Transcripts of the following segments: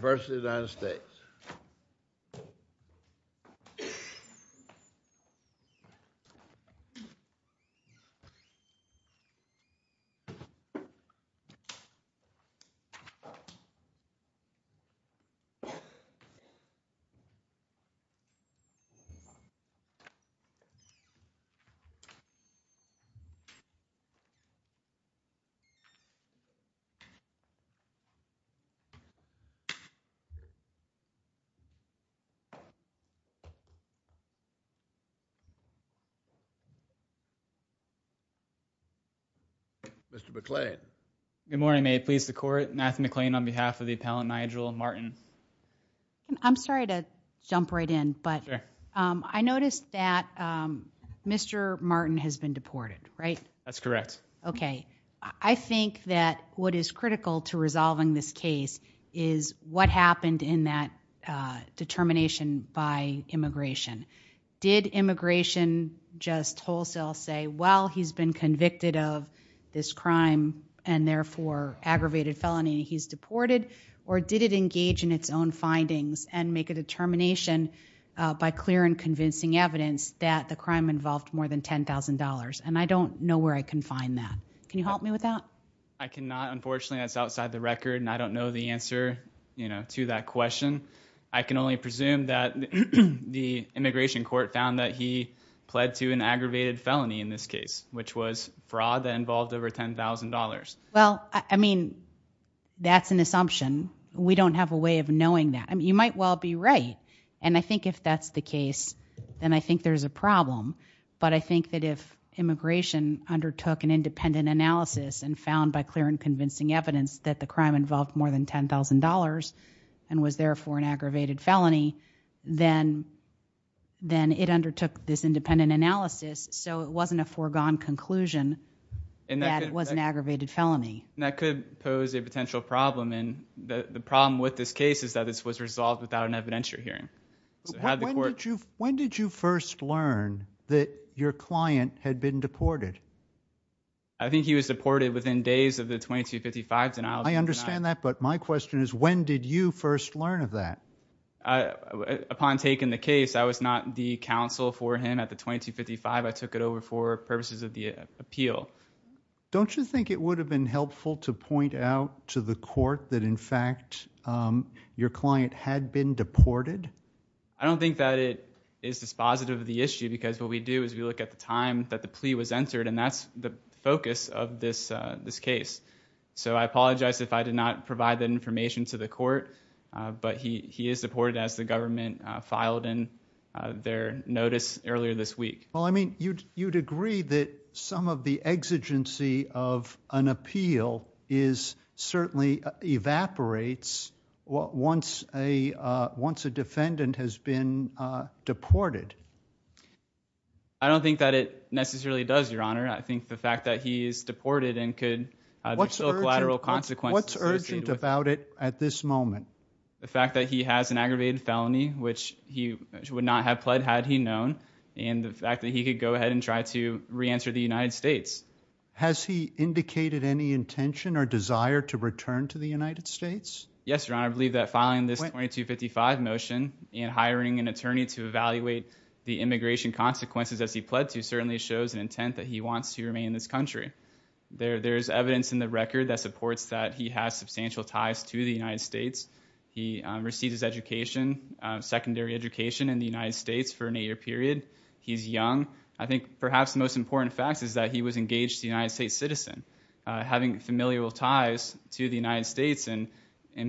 v. United States. Good morning, may it please the court, Matthew McLean on behalf of the appellant Nigel Martin. I'm sorry to jump right in, but I noticed that Mr. Martin has been deported, right? That's correct. I think that what is critical to resolving this case is what happened in that determination by immigration. Did immigration just wholesale say, well, he's been convicted of this crime and therefore aggravated felony, he's deported? Or did it engage in its own findings and make a determination by clear and convincing evidence that the crime involved more than $10,000? And I don't know where I can find that. Can you help me with that? I cannot. Unfortunately, that's outside the record. And I don't know the answer to that question. I can only presume that the immigration court found that he pled to an aggravated felony in this case, which was fraud that involved over $10,000. Well, I mean, that's an assumption. We don't have a way of knowing that. I mean, you might well be right. And I think if that's the case, then I think there's a problem. But I think that if immigration undertook an independent analysis and found by clear and convincing evidence that the crime involved more than $10,000 and was therefore an aggravated felony, then it undertook this independent analysis. So it wasn't a foregone conclusion that it was an aggravated felony. That could pose a potential problem. And the problem with this case is that this was resolved without an evidentiary hearing. When did you first learn that your client had been deported? I think he was deported within days of the 2255 denial. I understand that. But my question is, when did you first learn of that? Upon taking the case, I was not the counsel for him at the 2255. I took it over for purposes of the appeal. Don't you think it would have been helpful to point out to the court that, in fact, your I don't think that it is dispositive of the issue. Because what we do is we look at the time that the plea was entered. And that's the focus of this case. So I apologize if I did not provide that information to the court. But he is deported as the government filed in their notice earlier this week. Well, I mean, you'd agree that some of the exigency of an appeal is certainly evaporates once a defendant has been deported. I don't think that it necessarily does, Your Honor. I think the fact that he is deported and could have collateral consequences. What's urgent about it at this moment? The fact that he has an aggravated felony, which he would not have pled had he known. And the fact that he could go ahead and try to reenter the United States. Has he indicated any intention or desire to return to the United States? Yes, Your Honor. I believe that filing this 2255 motion and hiring an attorney to evaluate the immigration consequences as he pled to certainly shows an intent that he wants to remain in this country. There's evidence in the record that supports that he has substantial ties to the United States. He received his education, secondary education, in the United States for an eight-year period. He's young. I think perhaps the most important fact is that he was engaged to a United States citizen, having familial ties to the United States, and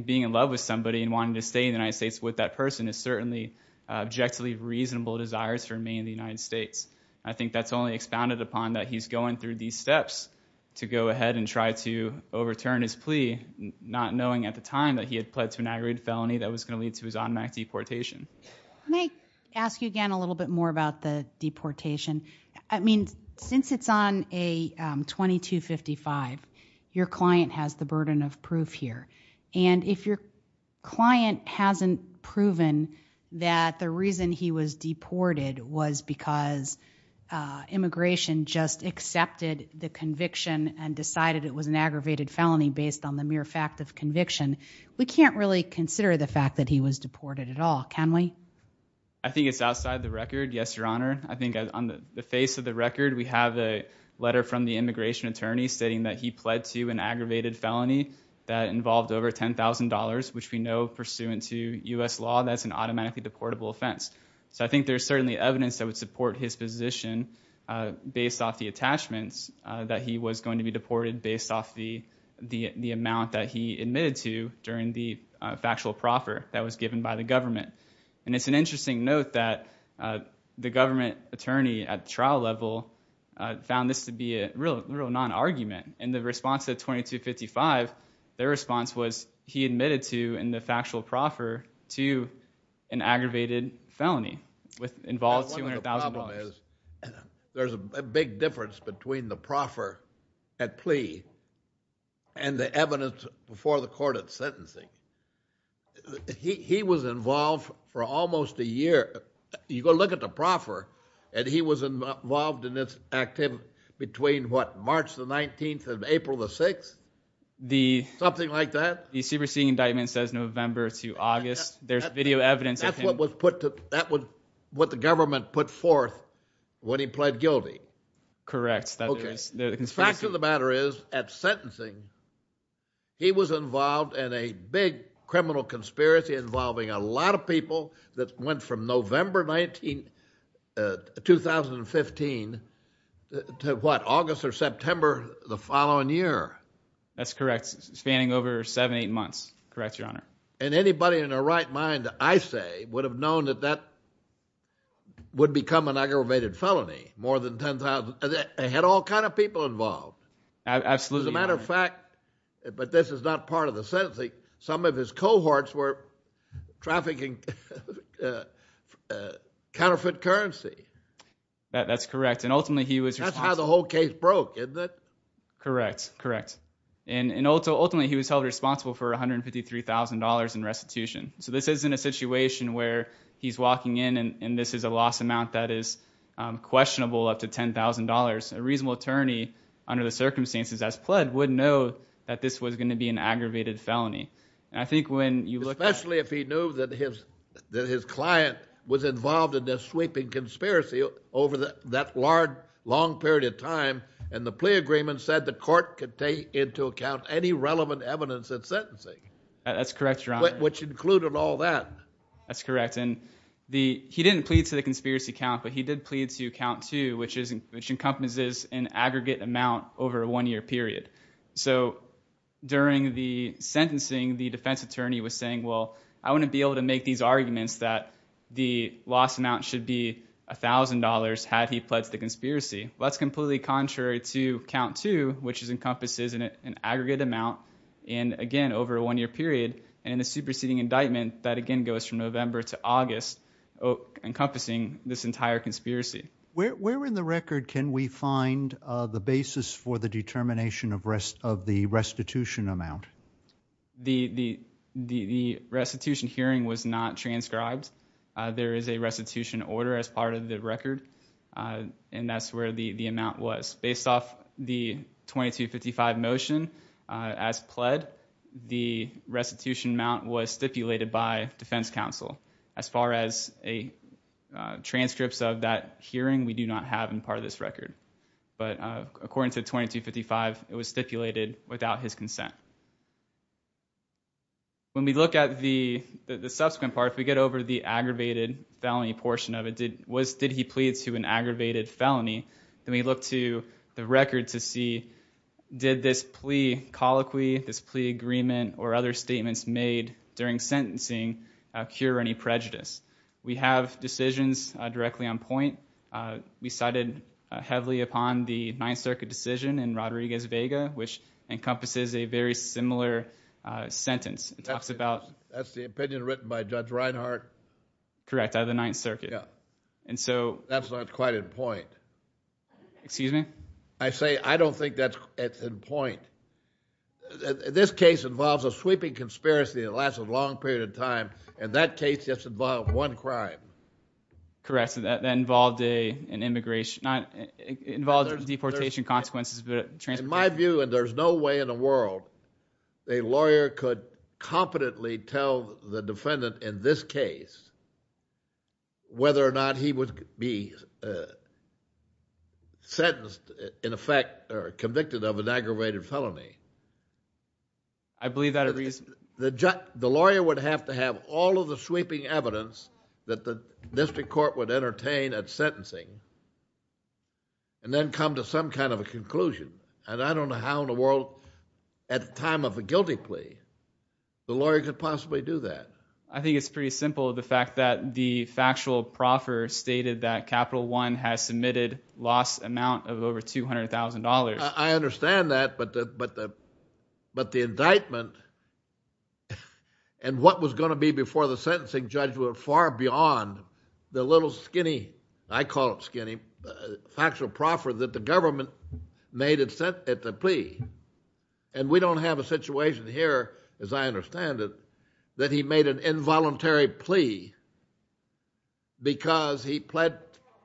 being in love with somebody and wanting to stay in the United States with that person is certainly objectively reasonable desires for him to remain in the United States. I think that's only expounded upon that he's going through these steps to go ahead and try to overturn his plea, not knowing at the time that he had pled to an aggravated felony that was going to lead to his automatic deportation. Can I ask you again a little bit more about the deportation? I mean, since it's on a 2255, your client has the burden of proof here. And if your client hasn't proven that the reason he was deported was because immigration just accepted the conviction and decided it was an aggravated felony based on the mere fact of conviction, we can't really consider the fact that he was deported at all, can we? I think it's outside the record, yes, Your Honor. I think on the face of the record, we have a letter from the immigration attorney stating that he pled to an aggravated felony that involved over $10,000, which we know pursuant to U.S. law, that's an automatically deportable offense. So I think there's certainly evidence that would support his position based off the attachments that he was going to be deported based off the amount that he admitted to during the factual proffer that was given by the government. And it's an interesting note that the government attorney at the trial level found this to be a real non-argument. In the response to the 2255, their response was he admitted to, in the factual proffer, to an aggravated felony involving $200,000. One of the problems is there's a big difference between the proffer at plea and the evidence before the court at sentencing. He was involved for almost a year. You go look at the proffer, and he was involved in this activity between, what, March the 19th and April the 6th? Something like that? The superseding indictment says November to August. There's video evidence of him. That's what was put to, that was what the government put forth when he pled guilty. Correct. The fact of the matter is, at sentencing, he was involved in a big criminal conspiracy involving a lot of people that went from November 2015 to, what, August or September the following year. That's correct. Spanning over seven, eight months. Correct, Your Honor. And anybody in their right mind, I say, would have known that that would become an aggravated felony. More than 10,000. They had all kind of people involved. Absolutely, Your Honor. As a matter of fact, but this is not part of the sentencing, some of his cohorts were trafficking counterfeit currency. That's correct. And ultimately, he was responsible. That's how the whole case broke, isn't it? Correct. Correct. And ultimately, he was held responsible for $153,000 in restitution. So this isn't a situation where he's walking in and this is a loss amount that is questionable up to $10,000. A reasonable attorney, under the circumstances as pled, would know that this was going to be an aggravated felony. I think when you look at... Especially if he knew that his client was involved in this sweeping conspiracy over that long period of time, and the plea agreement said the court could take into account any relevant evidence at sentencing. That's correct, Your Honor. Which included all that. That's correct. He didn't plead to the conspiracy count, but he did plead to count two, which encompasses an aggregate amount over a one-year period. So during the sentencing, the defense attorney was saying, well, I want to be able to make these arguments that the loss amount should be $1,000 had he pledged the conspiracy. That's completely contrary to count two, which encompasses an aggregate amount, and again, over a one-year period. And in the superseding indictment, that again goes from November to August, encompassing this entire conspiracy. Where in the record can we find the basis for the determination of the restitution amount? The restitution hearing was not transcribed. There is a restitution order as part of the record, and that's where the amount was. Based off the 2255 motion, as pled, the restitution amount was stipulated by defense counsel. As far as transcripts of that hearing, we do not have in part of this record. But according to 2255, it was stipulated without his consent. When we look at the subsequent part, if we get over the aggravated felony portion of it, did he plead to an aggravated felony, then we look to the record to see did this plea colloquy, this plea agreement, or other statements made during sentencing cure any prejudice. We have decisions directly on point. We cited heavily upon the Ninth Circuit decision in Rodriguez-Vega, which encompasses a very similar sentence. That's the opinion written by Judge Reinhart? Correct, out of the Ninth Circuit. That's not quite in point. Excuse me? I say I don't think that's in point. This case involves a sweeping conspiracy that lasted a long period of time, and that case just involved one crime. Correct. That involved a deportation consequence. In my view, and there's no way in the world a lawyer could competently tell the defendant in this case whether or not he would be sentenced in effect or convicted of an aggravated felony. I believe that... The lawyer would have to have all of the sweeping evidence that the district court would entertain at sentencing, and then come to some kind of a conclusion. I don't know how in the world at the time of a guilty plea the lawyer could possibly do that. I think it's pretty simple, the fact that the factual proffer stated that Capital One has submitted loss amount of over $200,000. I understand that, but the indictment and what was going to be before the sentencing judge went far beyond the little skinny, I call it skinny, factual proffer that the government made at the plea. And we don't have a situation here, as I understand it, that he made an involuntary plea because he pled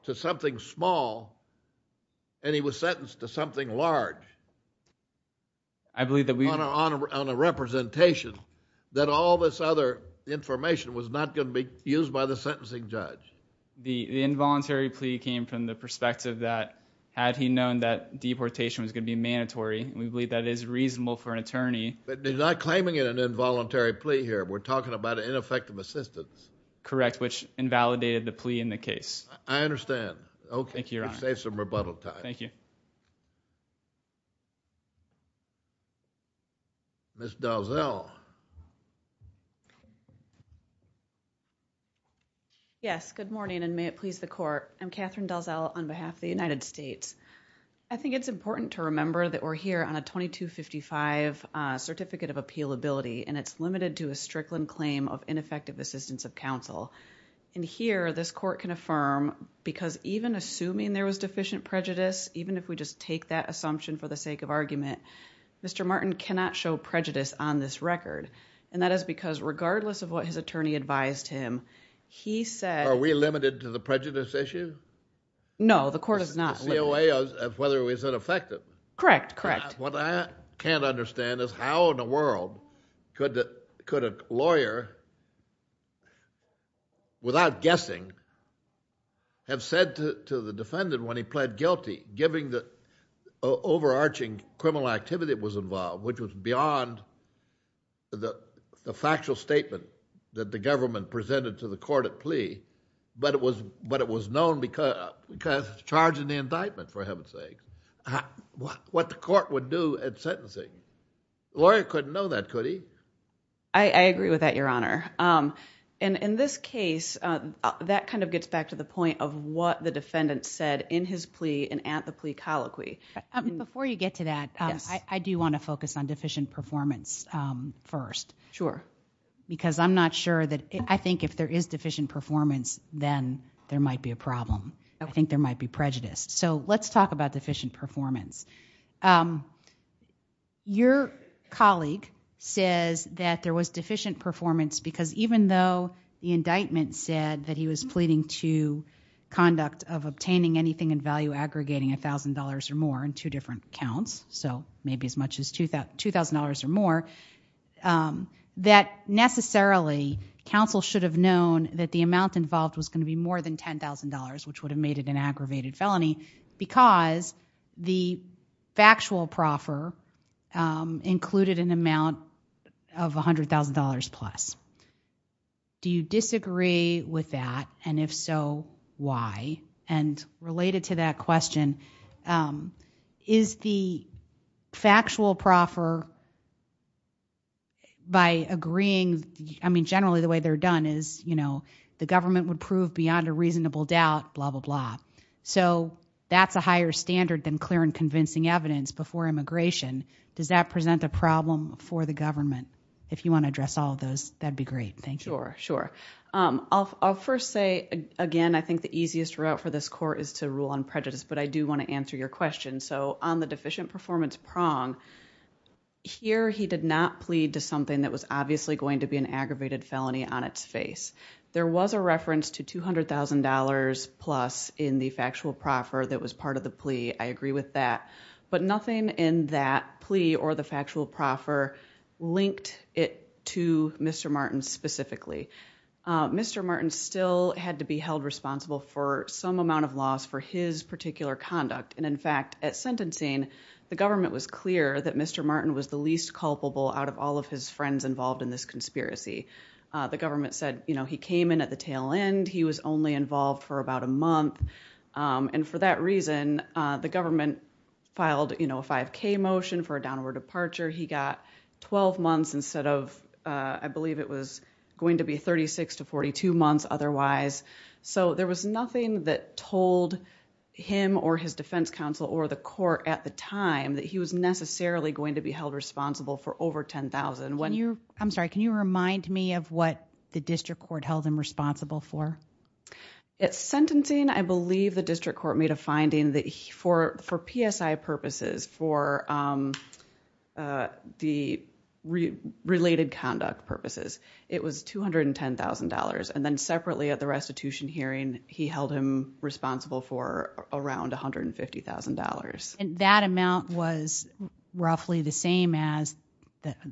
to something small and he was sentenced to something large. I believe that we... on a representation that all this other information was not going to be used by the sentencing judge. The involuntary plea came from the perspective that had he known that deportation was going to be mandatory, we believe that it is reasonable for an attorney... But they're not claiming an involuntary plea here. We're talking about ineffective assistance. Correct, which invalidated the plea in the case. I understand. Okay. Thank you, Your Honor. Save some rebuttal time. Thank you. Ms. Dalzell. Yes, good morning and may it please the Court. I'm Catherine Dalzell on behalf of the United States. I think it's important to remember that we're here on a 2255 Certificate of Appealability and it's limited to a Strickland claim of ineffective assistance of counsel. And here, this Court can affirm, because even assuming there was deficient prejudice, even if we just take that assumption for the sake of argument, Mr. Martin cannot show prejudice on this record. And that is because regardless of what his attorney advised him, he said... Are we limited to the prejudice issue? No, the Court is not. The COA of whether it was ineffective. Correct, correct. What I can't understand is how in the world could a lawyer, without guessing, have said to the defendant when he pled guilty, given the overarching criminal activity that was involved, which was beyond the factual statement that the government presented to the court at plea, but it was known because of the charge in the indictment, for heaven's sake. What the court would do at sentencing. The lawyer couldn't know that, could he? I agree with that, Your Honor. And in this case, that kind of gets back to the point of what the defendant said in his plea and at the plea colloquy. Before you get to that, I do want to focus on deficient performance first. Sure. Because I'm not sure that... I think if there is deficient performance, then there might be a problem. I think there might be prejudice. So let's talk about deficient performance. Your colleague says that there was deficient performance because even though the indictment said that he was pleading to conduct of obtaining anything in value aggregating $1,000 or more in two different counts, so maybe as much as $2,000 or more, that necessarily counsel should have known that the amount involved was going to be more than $10,000, which would have made it an aggravated felony because the factual proffer included an amount of $100,000 plus. Do you disagree with that? And if so, why? And related to that question, is the factual proffer by agreeing... So that's a higher standard than clear and convincing evidence before immigration. Does that present a problem for the government? If you want to address all of those, that would be great. Thank you. Sure, sure. I'll first say, again, I think the easiest route for this court is to rule on prejudice, but I do want to answer your question. So on the deficient performance prong, here he did not plead to something that was obviously going to be an aggravated felony on its face. There was a reference to $200,000 plus in the factual proffer that was part of the plea. I agree with that. But nothing in that plea or the factual proffer linked it to Mr. Martin specifically. Mr. Martin still had to be held responsible for some amount of loss for his particular conduct. And, in fact, at sentencing, the government was clear that Mr. Martin was the least culpable out of all of his friends involved in this conspiracy. The government said he came in at the tail end. He was only involved for about a month. And for that reason, the government filed a 5K motion for a downward departure. He got 12 months instead of, I believe it was going to be 36 to 42 months otherwise. So there was nothing that told him or his defense counsel or the court at the time that he was necessarily going to be held responsible for over $10,000. I'm sorry. Can you remind me of what the district court held him responsible for? At sentencing, I believe the district court made a finding that for PSI purposes, for the related conduct purposes, it was $210,000. And then separately at the restitution hearing, he held him responsible for around $150,000. And that amount was roughly the same as,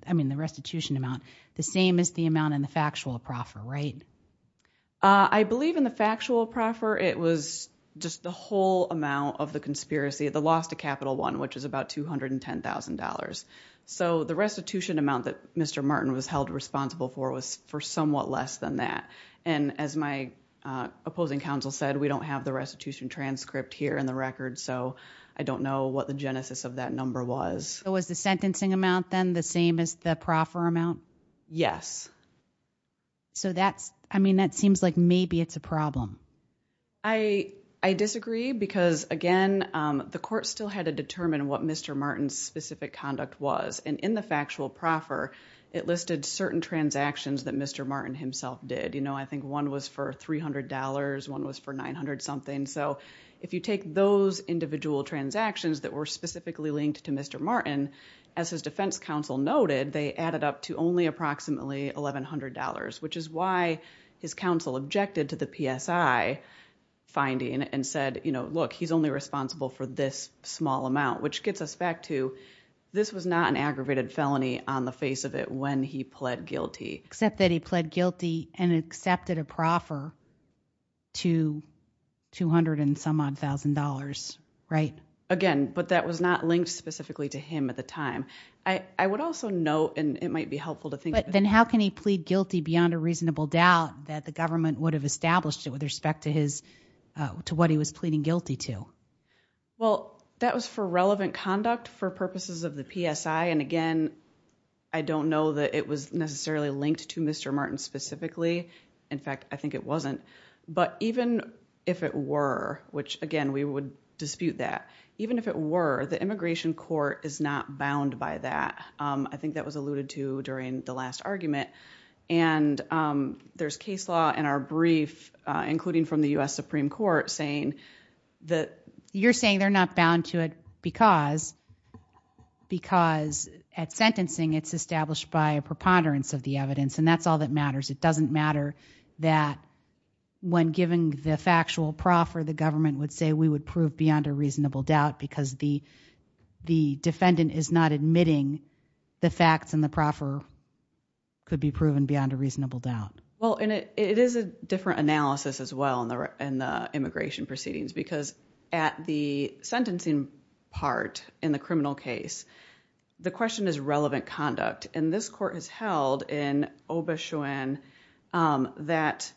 I mean, the restitution amount, the same as the amount in the factual proffer, right? I believe in the factual proffer, it was just the whole amount of the conspiracy, the loss to Capital One, which is about $210,000. So the restitution amount that Mr. Martin was held responsible for was for somewhat less than that. And as my opposing counsel said, we don't have the restitution transcript here in the record. So I don't know what the genesis of that number was. Was the sentencing amount then the same as the proffer amount? Yes. So that's, I mean, that seems like maybe it's a problem. I disagree because, again, the court still had to determine what Mr. Martin's specific conduct was. And in the factual proffer, it listed certain transactions that Mr. Martin himself did. You know, I think one was for $300, one was for $900 something. So if you take those individual transactions that were specifically linked to Mr. Martin, as his defense counsel noted, they added up to only approximately $1,100, which is why his counsel objected to the PSI finding and said, you know, look, he's only responsible for this small amount, which gets us back to this was not an aggravated felony on the face of it when he pled guilty. Except that he pled guilty and accepted a proffer to $200-and-some-odd-thousand, right? Again, but that was not linked specifically to him at the time. I would also note, and it might be helpful to think about... But then how can he plead guilty beyond a reasonable doubt that the government would have established it with respect to what he was pleading guilty to? Well, that was for relevant conduct for purposes of the PSI. And again, I don't know that it was necessarily linked to Mr. Martin specifically. In fact, I think it wasn't. But even if it were, which again, we would dispute that, even if it were, the immigration court is not bound by that. I think that was alluded to during the last argument. And there's case law in our brief, including from the U.S. Supreme Court, saying that... You're saying they're not bound to it because at sentencing it's established by a preponderance of the evidence. And that's all that matters. It doesn't matter that when given the factual proffer, the government would say we would prove beyond a reasonable doubt because the defendant is not admitting the facts and the proffer could be proven beyond a reasonable doubt. Well, and it is a different analysis as well in the immigration proceedings. Because at the sentencing part in the criminal case, the question is relevant conduct. And this court has held in Obechuen that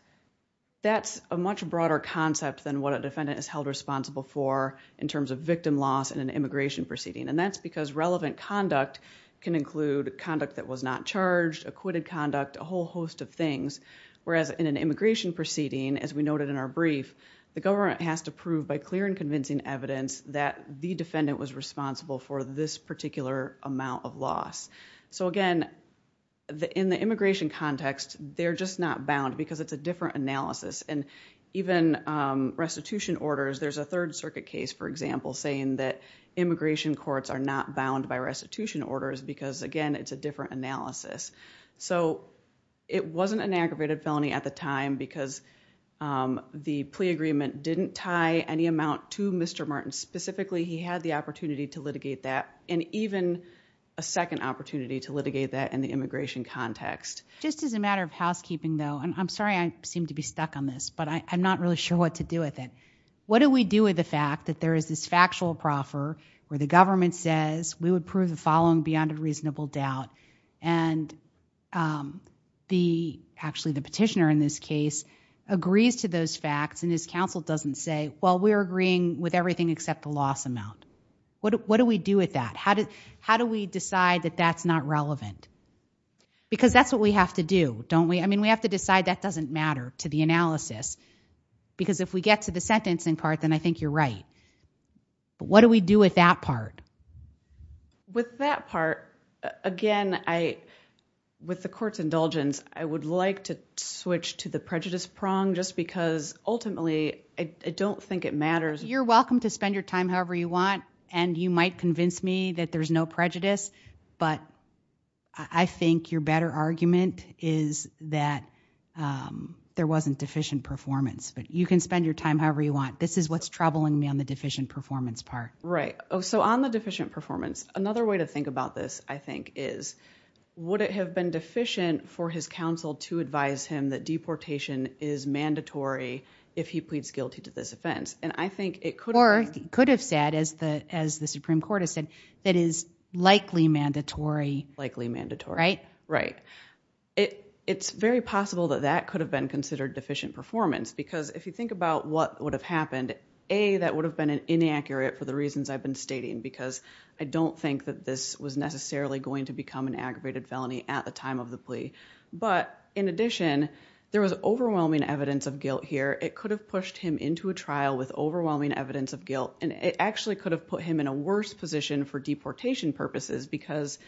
that's a much broader concept than what a defendant is held responsible for in terms of victim loss in an immigration proceeding. And that's because relevant conduct can include conduct that was not charged, acquitted conduct, a whole host of things. Whereas in an immigration proceeding, as we noted in our brief, the government has to prove by clear and convincing evidence that the defendant was responsible for this particular amount of loss. So again, in the immigration context, they're just not bound because it's a different analysis. And even restitution orders, there's a Third Circuit case, for example, saying that immigration courts are not bound by restitution orders because, again, it's a different analysis. So it wasn't an aggravated felony at the time because the plea agreement didn't tie any amount to Mr. Martin. Specifically, he had the opportunity to litigate that and even a second opportunity to litigate that in the immigration context. Just as a matter of housekeeping, though, and I'm sorry I seem to be stuck on this, but I'm not really sure what to do with it. What do we do with the fact that there is this factual proffer where the government says we would prove the following beyond a reasonable doubt? And actually, the petitioner in this case agrees to those facts and his counsel doesn't say, well, we're agreeing with everything except the loss amount. What do we do with that? How do we decide that that's not relevant? Because that's what we have to do, don't we? I mean, we have to decide that doesn't matter to the analysis because if we get to the sentencing part, then I think you're right. But what do we do with that part? With that part, again, with the court's indulgence, I would like to switch to the prejudice prong just because ultimately I don't think it matters. You're welcome to spend your time however you want, and you might convince me that there's no prejudice. But I think your better argument is that there wasn't deficient performance. But you can spend your time however you want. This is what's troubling me on the deficient performance part. Right. So on the deficient performance, another way to think about this, I think, is would it have been deficient for his counsel to advise him that deportation is mandatory if he pleads guilty to this offense? Or he could have said, as the Supreme Court has said, that it is likely mandatory. Likely mandatory. Right? Right. It's very possible that that could have been considered deficient performance. Because if you think about what would have happened, A, that would have been inaccurate for the reasons I've been stating. Because I don't think that this was necessarily going to become an aggravated felony at the time of the plea. But in addition, there was overwhelming evidence of guilt here. It could have pushed him into a trial with overwhelming evidence of guilt. And it actually could have put him in a worse position for deportation purposes. Because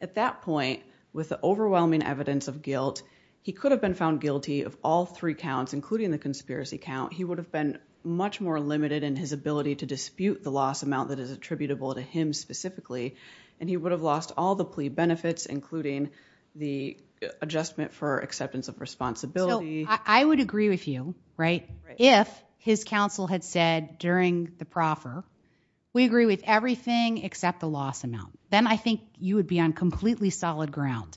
at that point, with the overwhelming evidence of guilt, he could have been found guilty of all three counts, including the conspiracy count. He would have been much more limited in his ability to dispute the loss amount that is attributable to him specifically. And he would have lost all the plea benefits, including the adjustment for acceptance of responsibility. I would agree with you, right, if his counsel had said during the proffer, we agree with everything except the loss amount. Then I think you would be on completely solid ground.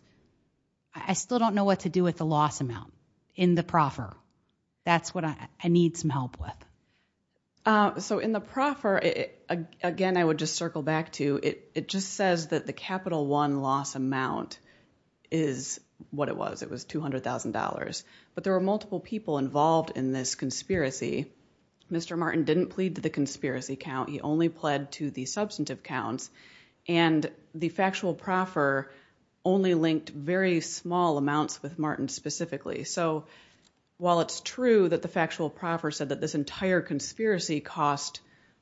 I still don't know what to do with the loss amount in the proffer. That's what I need some help with. So in the proffer, again, I would just circle back to, it just says that the capital one loss amount is what it was. It was $200,000. But there were multiple people involved in this conspiracy. Mr. Martin didn't plead to the conspiracy count. He only pled to the substantive counts. And the factual proffer only linked very small amounts with Martin specifically. So while it's true that the factual proffer said that this entire conspiracy cost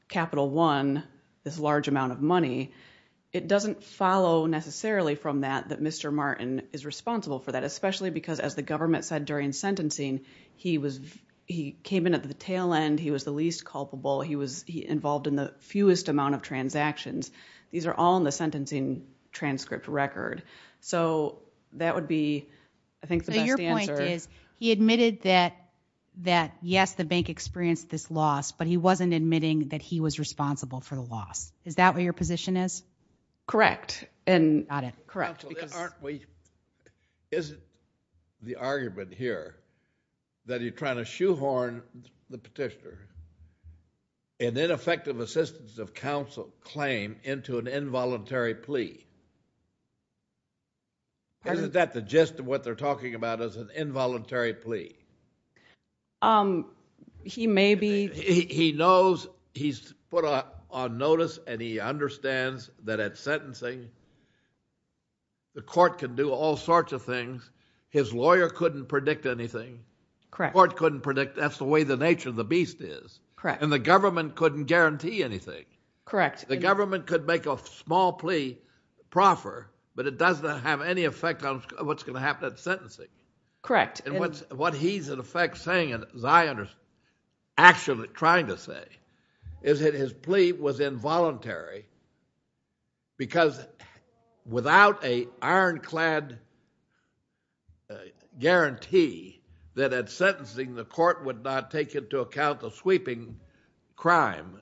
capital one, this large amount of money, it doesn't follow necessarily from that that Mr. Martin is responsible for that, especially because, as the government said during sentencing, he came in at the tail end. He was the least culpable. He was involved in the fewest amount of transactions. These are all in the sentencing transcript record. So that would be, I think, the best answer. So your point is he admitted that, yes, the bank experienced this loss, but he wasn't admitting that he was responsible for the loss. Is that what your position is? Correct. And correct. Isn't the argument here that you're trying to shoehorn the petitioner, an ineffective assistance of counsel claim into an involuntary plea? Isn't that the gist of what they're talking about as an involuntary plea? He may be. He knows he's put on notice, and he understands that at sentencing the court can do all sorts of things. His lawyer couldn't predict anything. The court couldn't predict. That's the way the nature of the beast is. And the government couldn't guarantee anything. The government could make a small plea proffer, but it doesn't have any effect on what's going to happen at sentencing. Correct. And what he's in effect saying, as I understand, actually trying to say, is that his plea was involuntary because without an ironclad guarantee that at sentencing the court would not take into account the sweeping crime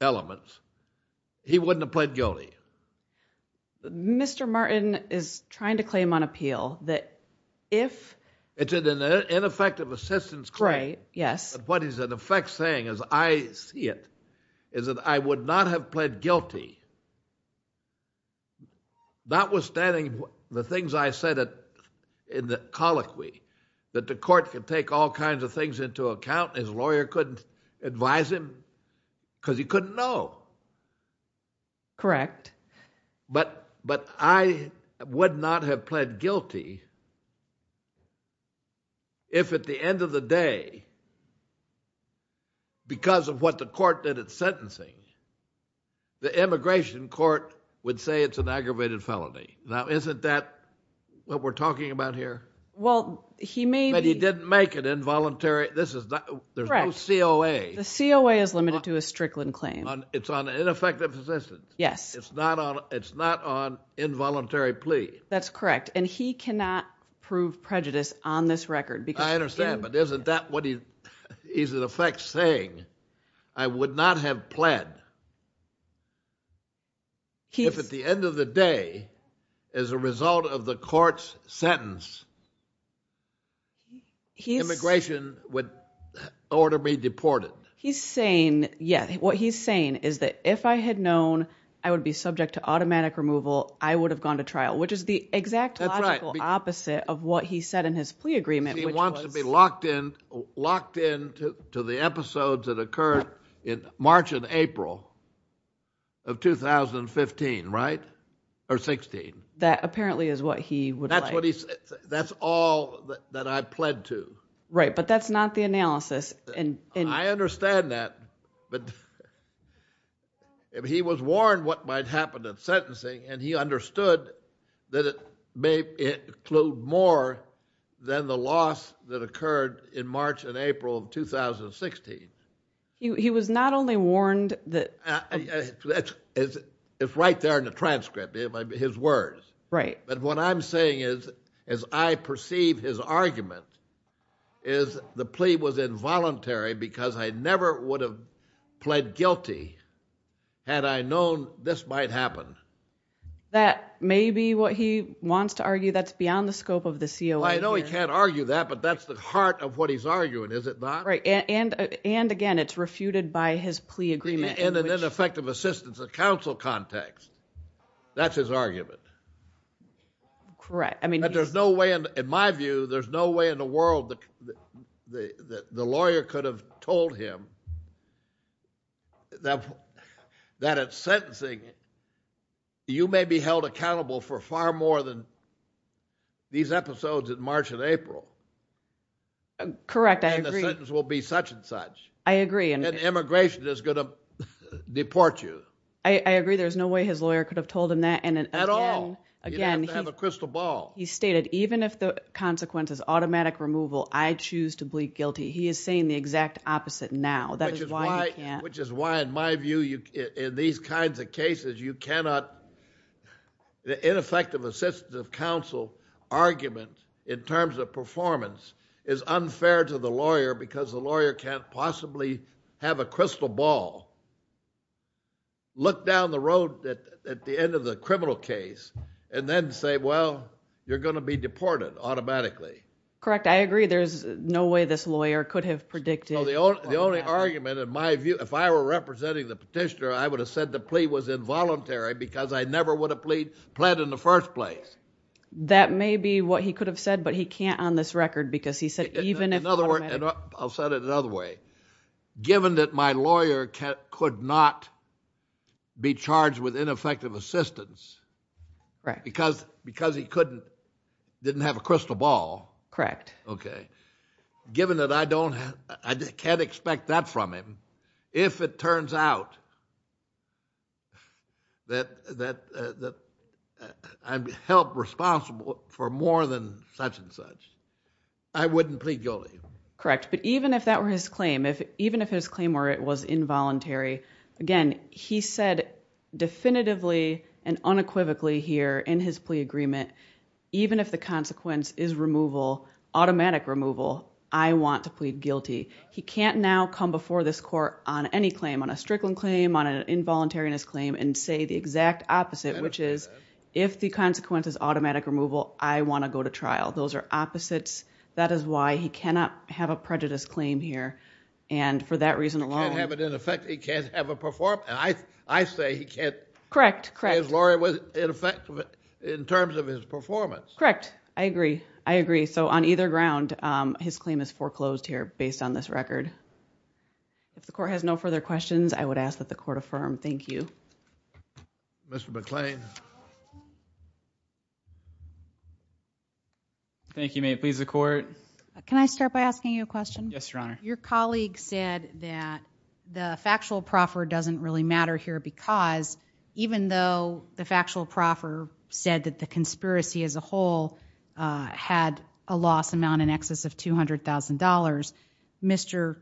elements, he wouldn't have pled guilty. Mr. Martin is trying to claim on appeal that if... It's an ineffective assistance claim. Right, yes. What he's in effect saying, as I see it, is that I would not have pled guilty, notwithstanding the things I said in the colloquy, that the court could take all kinds of things into account. His lawyer couldn't advise him because he couldn't know. Correct. But I would not have pled guilty if at the end of the day, because of what the court did at sentencing, the immigration court would say it's an aggravated felony. Now, isn't that what we're talking about here? Well, he may be... But he didn't make it involuntary. There's no COA. The COA is limited to a Strickland claim. It's on ineffective assistance. Yes. It's not on involuntary plea. That's correct, and he cannot prove prejudice on this record because... I understand, but isn't that what he's in effect saying? I would not have pled if at the end of the day, as a result of the court's sentence, immigration would order me deported. He's saying, yes, what he's saying is that if I had known I would be subject to automatic removal, I would have gone to trial, which is the exact logical opposite of what he said in his plea agreement, which was... He wants to be locked in to the episodes that occurred in March and April of 2015, right, or 16. That apparently is what he would like. That's all that I pled to. Right, but that's not the analysis. I understand that, but he was warned what might happen in sentencing, and he understood that it may include more than the loss that occurred in March and April of 2016. He was not only warned that... It's right there in the transcript, his words. Right. But what I'm saying is, as I perceive his argument, is the plea was involuntary because I never would have pled guilty had I known this might happen. That may be what he wants to argue. That's beyond the scope of the COA here. I know he can't argue that, but that's the heart of what he's arguing, is it not? Right, and again, it's refuted by his plea agreement. In an ineffective assistance of counsel context, that's his argument. Correct. In my view, there's no way in the world the lawyer could have told him that at sentencing, you may be held accountable for far more than these episodes in March and April. Correct, I agree. And the sentence will be such and such. I agree. And immigration is going to deport you. I agree. There's no way his lawyer could have told him that. Again, he... You'd have to have a crystal ball. He stated, even if the consequence is automatic removal, I choose to plead guilty. He is saying the exact opposite now. That is why you can't... Which is why, in my view, in these kinds of cases, you cannot... The ineffective assistance of counsel argument, in terms of performance, is unfair to the lawyer because the lawyer can't possibly have a crystal ball, look down the road at the end of the criminal case, and then say, well, you're going to be deported automatically. Correct, I agree. There's no way this lawyer could have predicted... The only argument, in my view, if I were representing the petitioner, I would have said the plea was involuntary because I never would have pled in the first place. That may be what he could have said, but he can't on this record because he said... In other words, I'll set it another way. Given that my lawyer could not be charged with ineffective assistance... Correct. Because he didn't have a crystal ball... Correct. Okay. Given that I don't... I can't expect that from him, if it turns out that I'm held responsible for more than such and such, I wouldn't plead guilty. Correct, but even if that were his claim, even if his claim were it was involuntary, again, he said definitively and unequivocally here in his plea agreement, even if the consequence is removal, automatic removal, I want to plead guilty. He can't now come before this court on any claim, on a Strickland claim, on an involuntariness claim, and say the exact opposite, which is if the consequence is automatic removal, I want to go to trial. Those are opposites. That is why he cannot have a prejudice claim here, and for that reason alone... He can't have it in effect. He can't have a... I say he can't... Correct, correct. His lawyer was ineffective in terms of his performance. Correct. I agree. I agree. On either ground, his claim is foreclosed here, based on this record. If the court has no further questions, I would ask that the court affirm. Thank you. Mr. McClain. Thank you, ma'am. Please, the court. Can I start by asking you a question? Yes, Your Honor. Your colleague said that the factual proffer doesn't really matter here, because even though the factual proffer said that the conspiracy as a whole had a loss amount in excess of $200,000,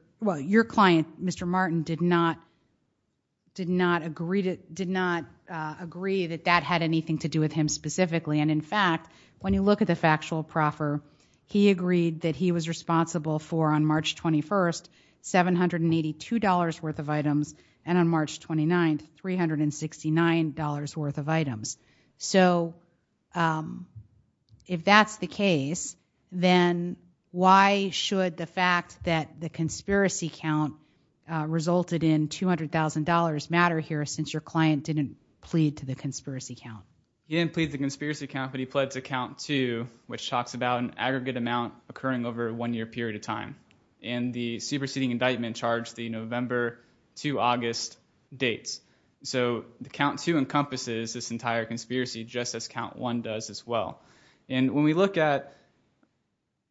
your client, Mr. Martin, did not agree that that had anything to do with him specifically. In fact, when you look at the factual proffer, he agreed that he was responsible for, on March 21st, $782 worth of items, and on March 29th, $369 worth of items. So if that's the case, then why should the fact that the conspiracy count resulted in $200,000 matter here, since your client didn't plead to the conspiracy count? He didn't plead to the conspiracy count, but he pled to count two, which talks about an aggregate amount occurring over a one-year period of time. And the superseding indictment charged the November to August dates. So count two encompasses this entire conspiracy, just as count one does as well. And when we look at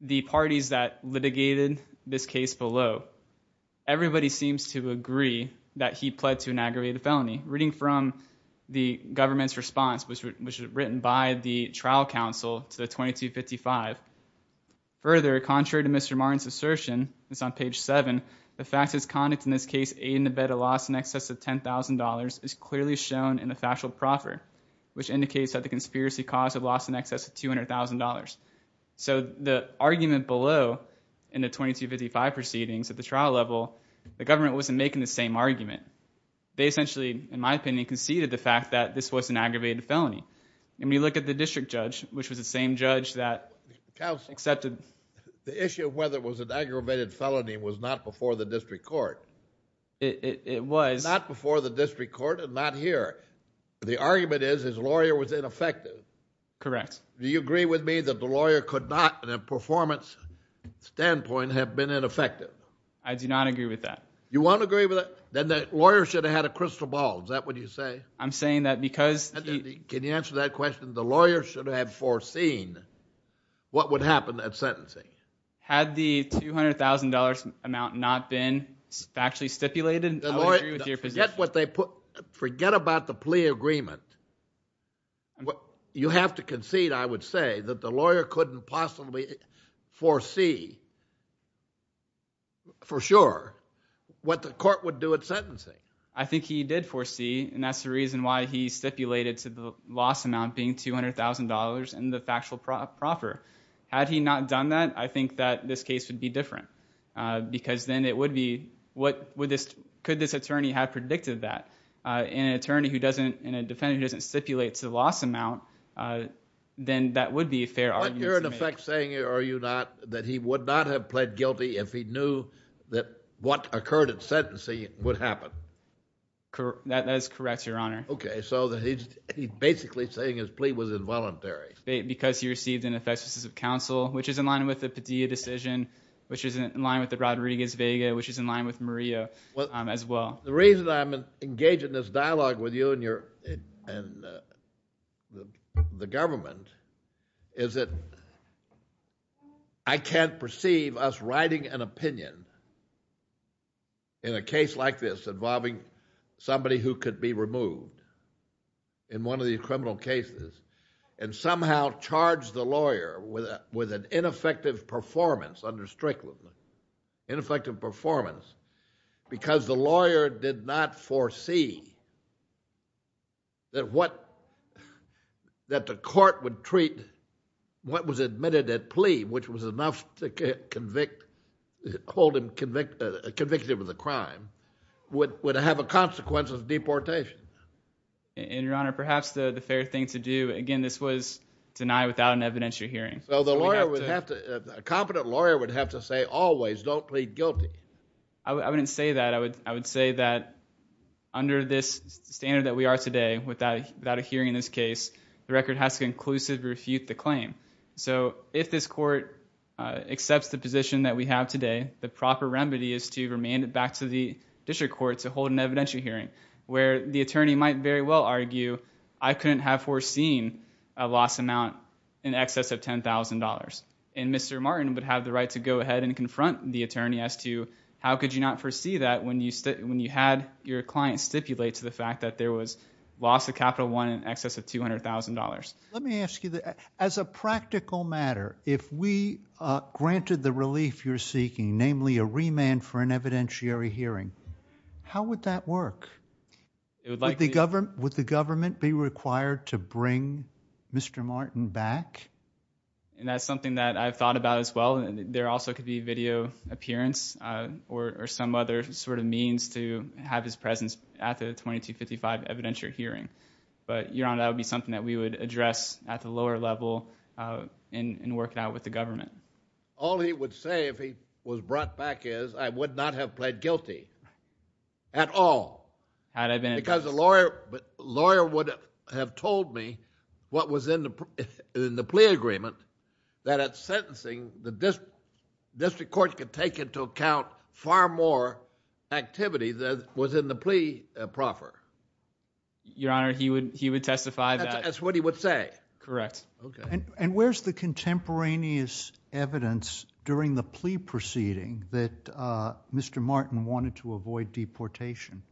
the parties that litigated this case below, everybody seems to agree that he pled to an aggravated felony, reading from the government's response, which was written by the trial counsel to the 2255. Further, contrary to Mr. Martin's assertion, it's on page seven, the facts of his conduct in this case aid in the bet of loss in excess of $10,000 is clearly shown in the factual proffer, which indicates that the conspiracy caused a loss in excess of $200,000. So the argument below in the 2255 proceedings at the trial level, the government wasn't making the same argument. They essentially, in my opinion, conceded the fact that this was an aggravated felony. And when you look at the district judge, which was the same judge that accepted... The issue of whether it was an aggravated felony was not before the district court. It was... Not before the district court and not here. The argument is his lawyer was ineffective. Correct. Do you agree with me that the lawyer could not, in a performance standpoint, have been ineffective? I do not agree with that. You won't agree with that? Then the lawyer should have had a crystal ball. Is that what you say? I'm saying that because... Can you answer that question? The lawyer should have foreseen what would happen at sentencing. Had the $200,000 amount not been factually stipulated, I would agree with your position. Forget about the plea agreement. You have to concede, I would say, that the lawyer couldn't possibly foresee for sure what the court would do at sentencing. I think he did foresee, and that's the reason why he stipulated to the loss amount being $200,000 and the factual proffer. Had he not done that, I think that this case would be different because then it would be... Could this attorney have predicted that? An attorney and a defendant who doesn't stipulate to the loss amount, then that would be a fair argument to make. You're in effect saying, are you not, that he would not have pled guilty if he knew what occurred at sentencing would happen? That is correct, Your Honor. Okay, so he's basically saying his plea was involuntary. Because he received an effective decision of counsel, which is in line with the Padilla decision, which is in line with the Rodriguez-Vega, which is in line with Murillo as well. The reason I'm engaged in this dialogue with you and the government is that I can't perceive us writing an opinion in a case like this involving somebody who could be removed in one of these criminal cases and somehow charge the lawyer with an ineffective performance under Strickland, ineffective performance, because the lawyer did not foresee that the court would treat what was admitted at plea, which was enough to hold him convicted of the crime, would have a consequence of deportation. And, Your Honor, perhaps the fair thing to do, again, this was denied without an evidentiary hearing. So the lawyer would have to, a competent lawyer would have to say always don't plead guilty. I wouldn't say that. I would say that under this standard that we are today, the record has to inclusively refute the claim. So if this court accepts the position that we have today, the proper remedy is to remand it back to the district court to hold an evidentiary hearing where the attorney might very well argue I couldn't have foreseen a loss amount in excess of $10,000. And Mr. Martin would have the right to go ahead and confront the attorney as to how could you not foresee that when you had your client stipulate to the fact that there was loss of capital one in excess of $200,000. Let me ask you, as a practical matter, if we granted the relief you're seeking, namely a remand for an evidentiary hearing, how would that work? Would the government be required to bring Mr. Martin back? And that's something that I've thought about as well. There also could be video appearance or some other sort of means to have his presence at the 2255 evidentiary hearing. But, Your Honor, that would be something that we would address at the lower level in working out with the government. All he would say if he was brought back is, I would not have pled guilty at all. Because a lawyer would have told me what was in the plea agreement that at sentencing the district court could take into account far more activity than was in the plea proffer. Your Honor, he would testify that. That's what he would say. Correct. And where's the contemporaneous evidence during the plea proceeding that Mr. Martin wanted to avoid deportation?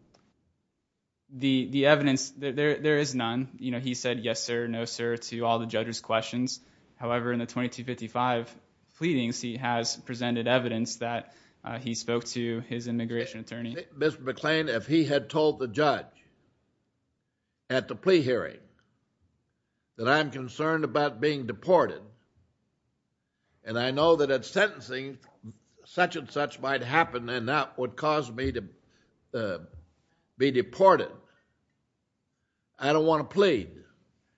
The evidence, there is none. He said yes, sir, no, sir, to all the judge's questions. However, in the 2255 pleadings, he has presented evidence that he spoke to his immigration attorney. Mr. McClain, if he had told the judge at the plea hearing that I'm concerned about being deported and I know that at sentencing such and such might happen and that would cause me to be deported, I don't want to plead.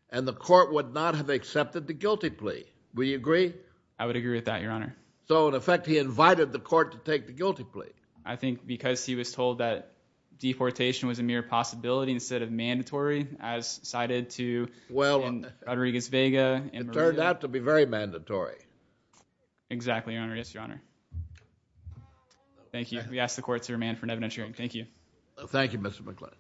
And the court would not have accepted the guilty plea. Would you agree? I would agree with that, Your Honor. So, in effect, he invited the court to take the guilty plea. I think because he was told that deportation was a mere possibility instead of mandatory, as cited in Rodriguez-Vega. It turned out to be very mandatory. Exactly, Your Honor. Yes, Your Honor. Thank you. We ask the court to remand for an evidence hearing. Thank you. Thank you, Mr. McClain.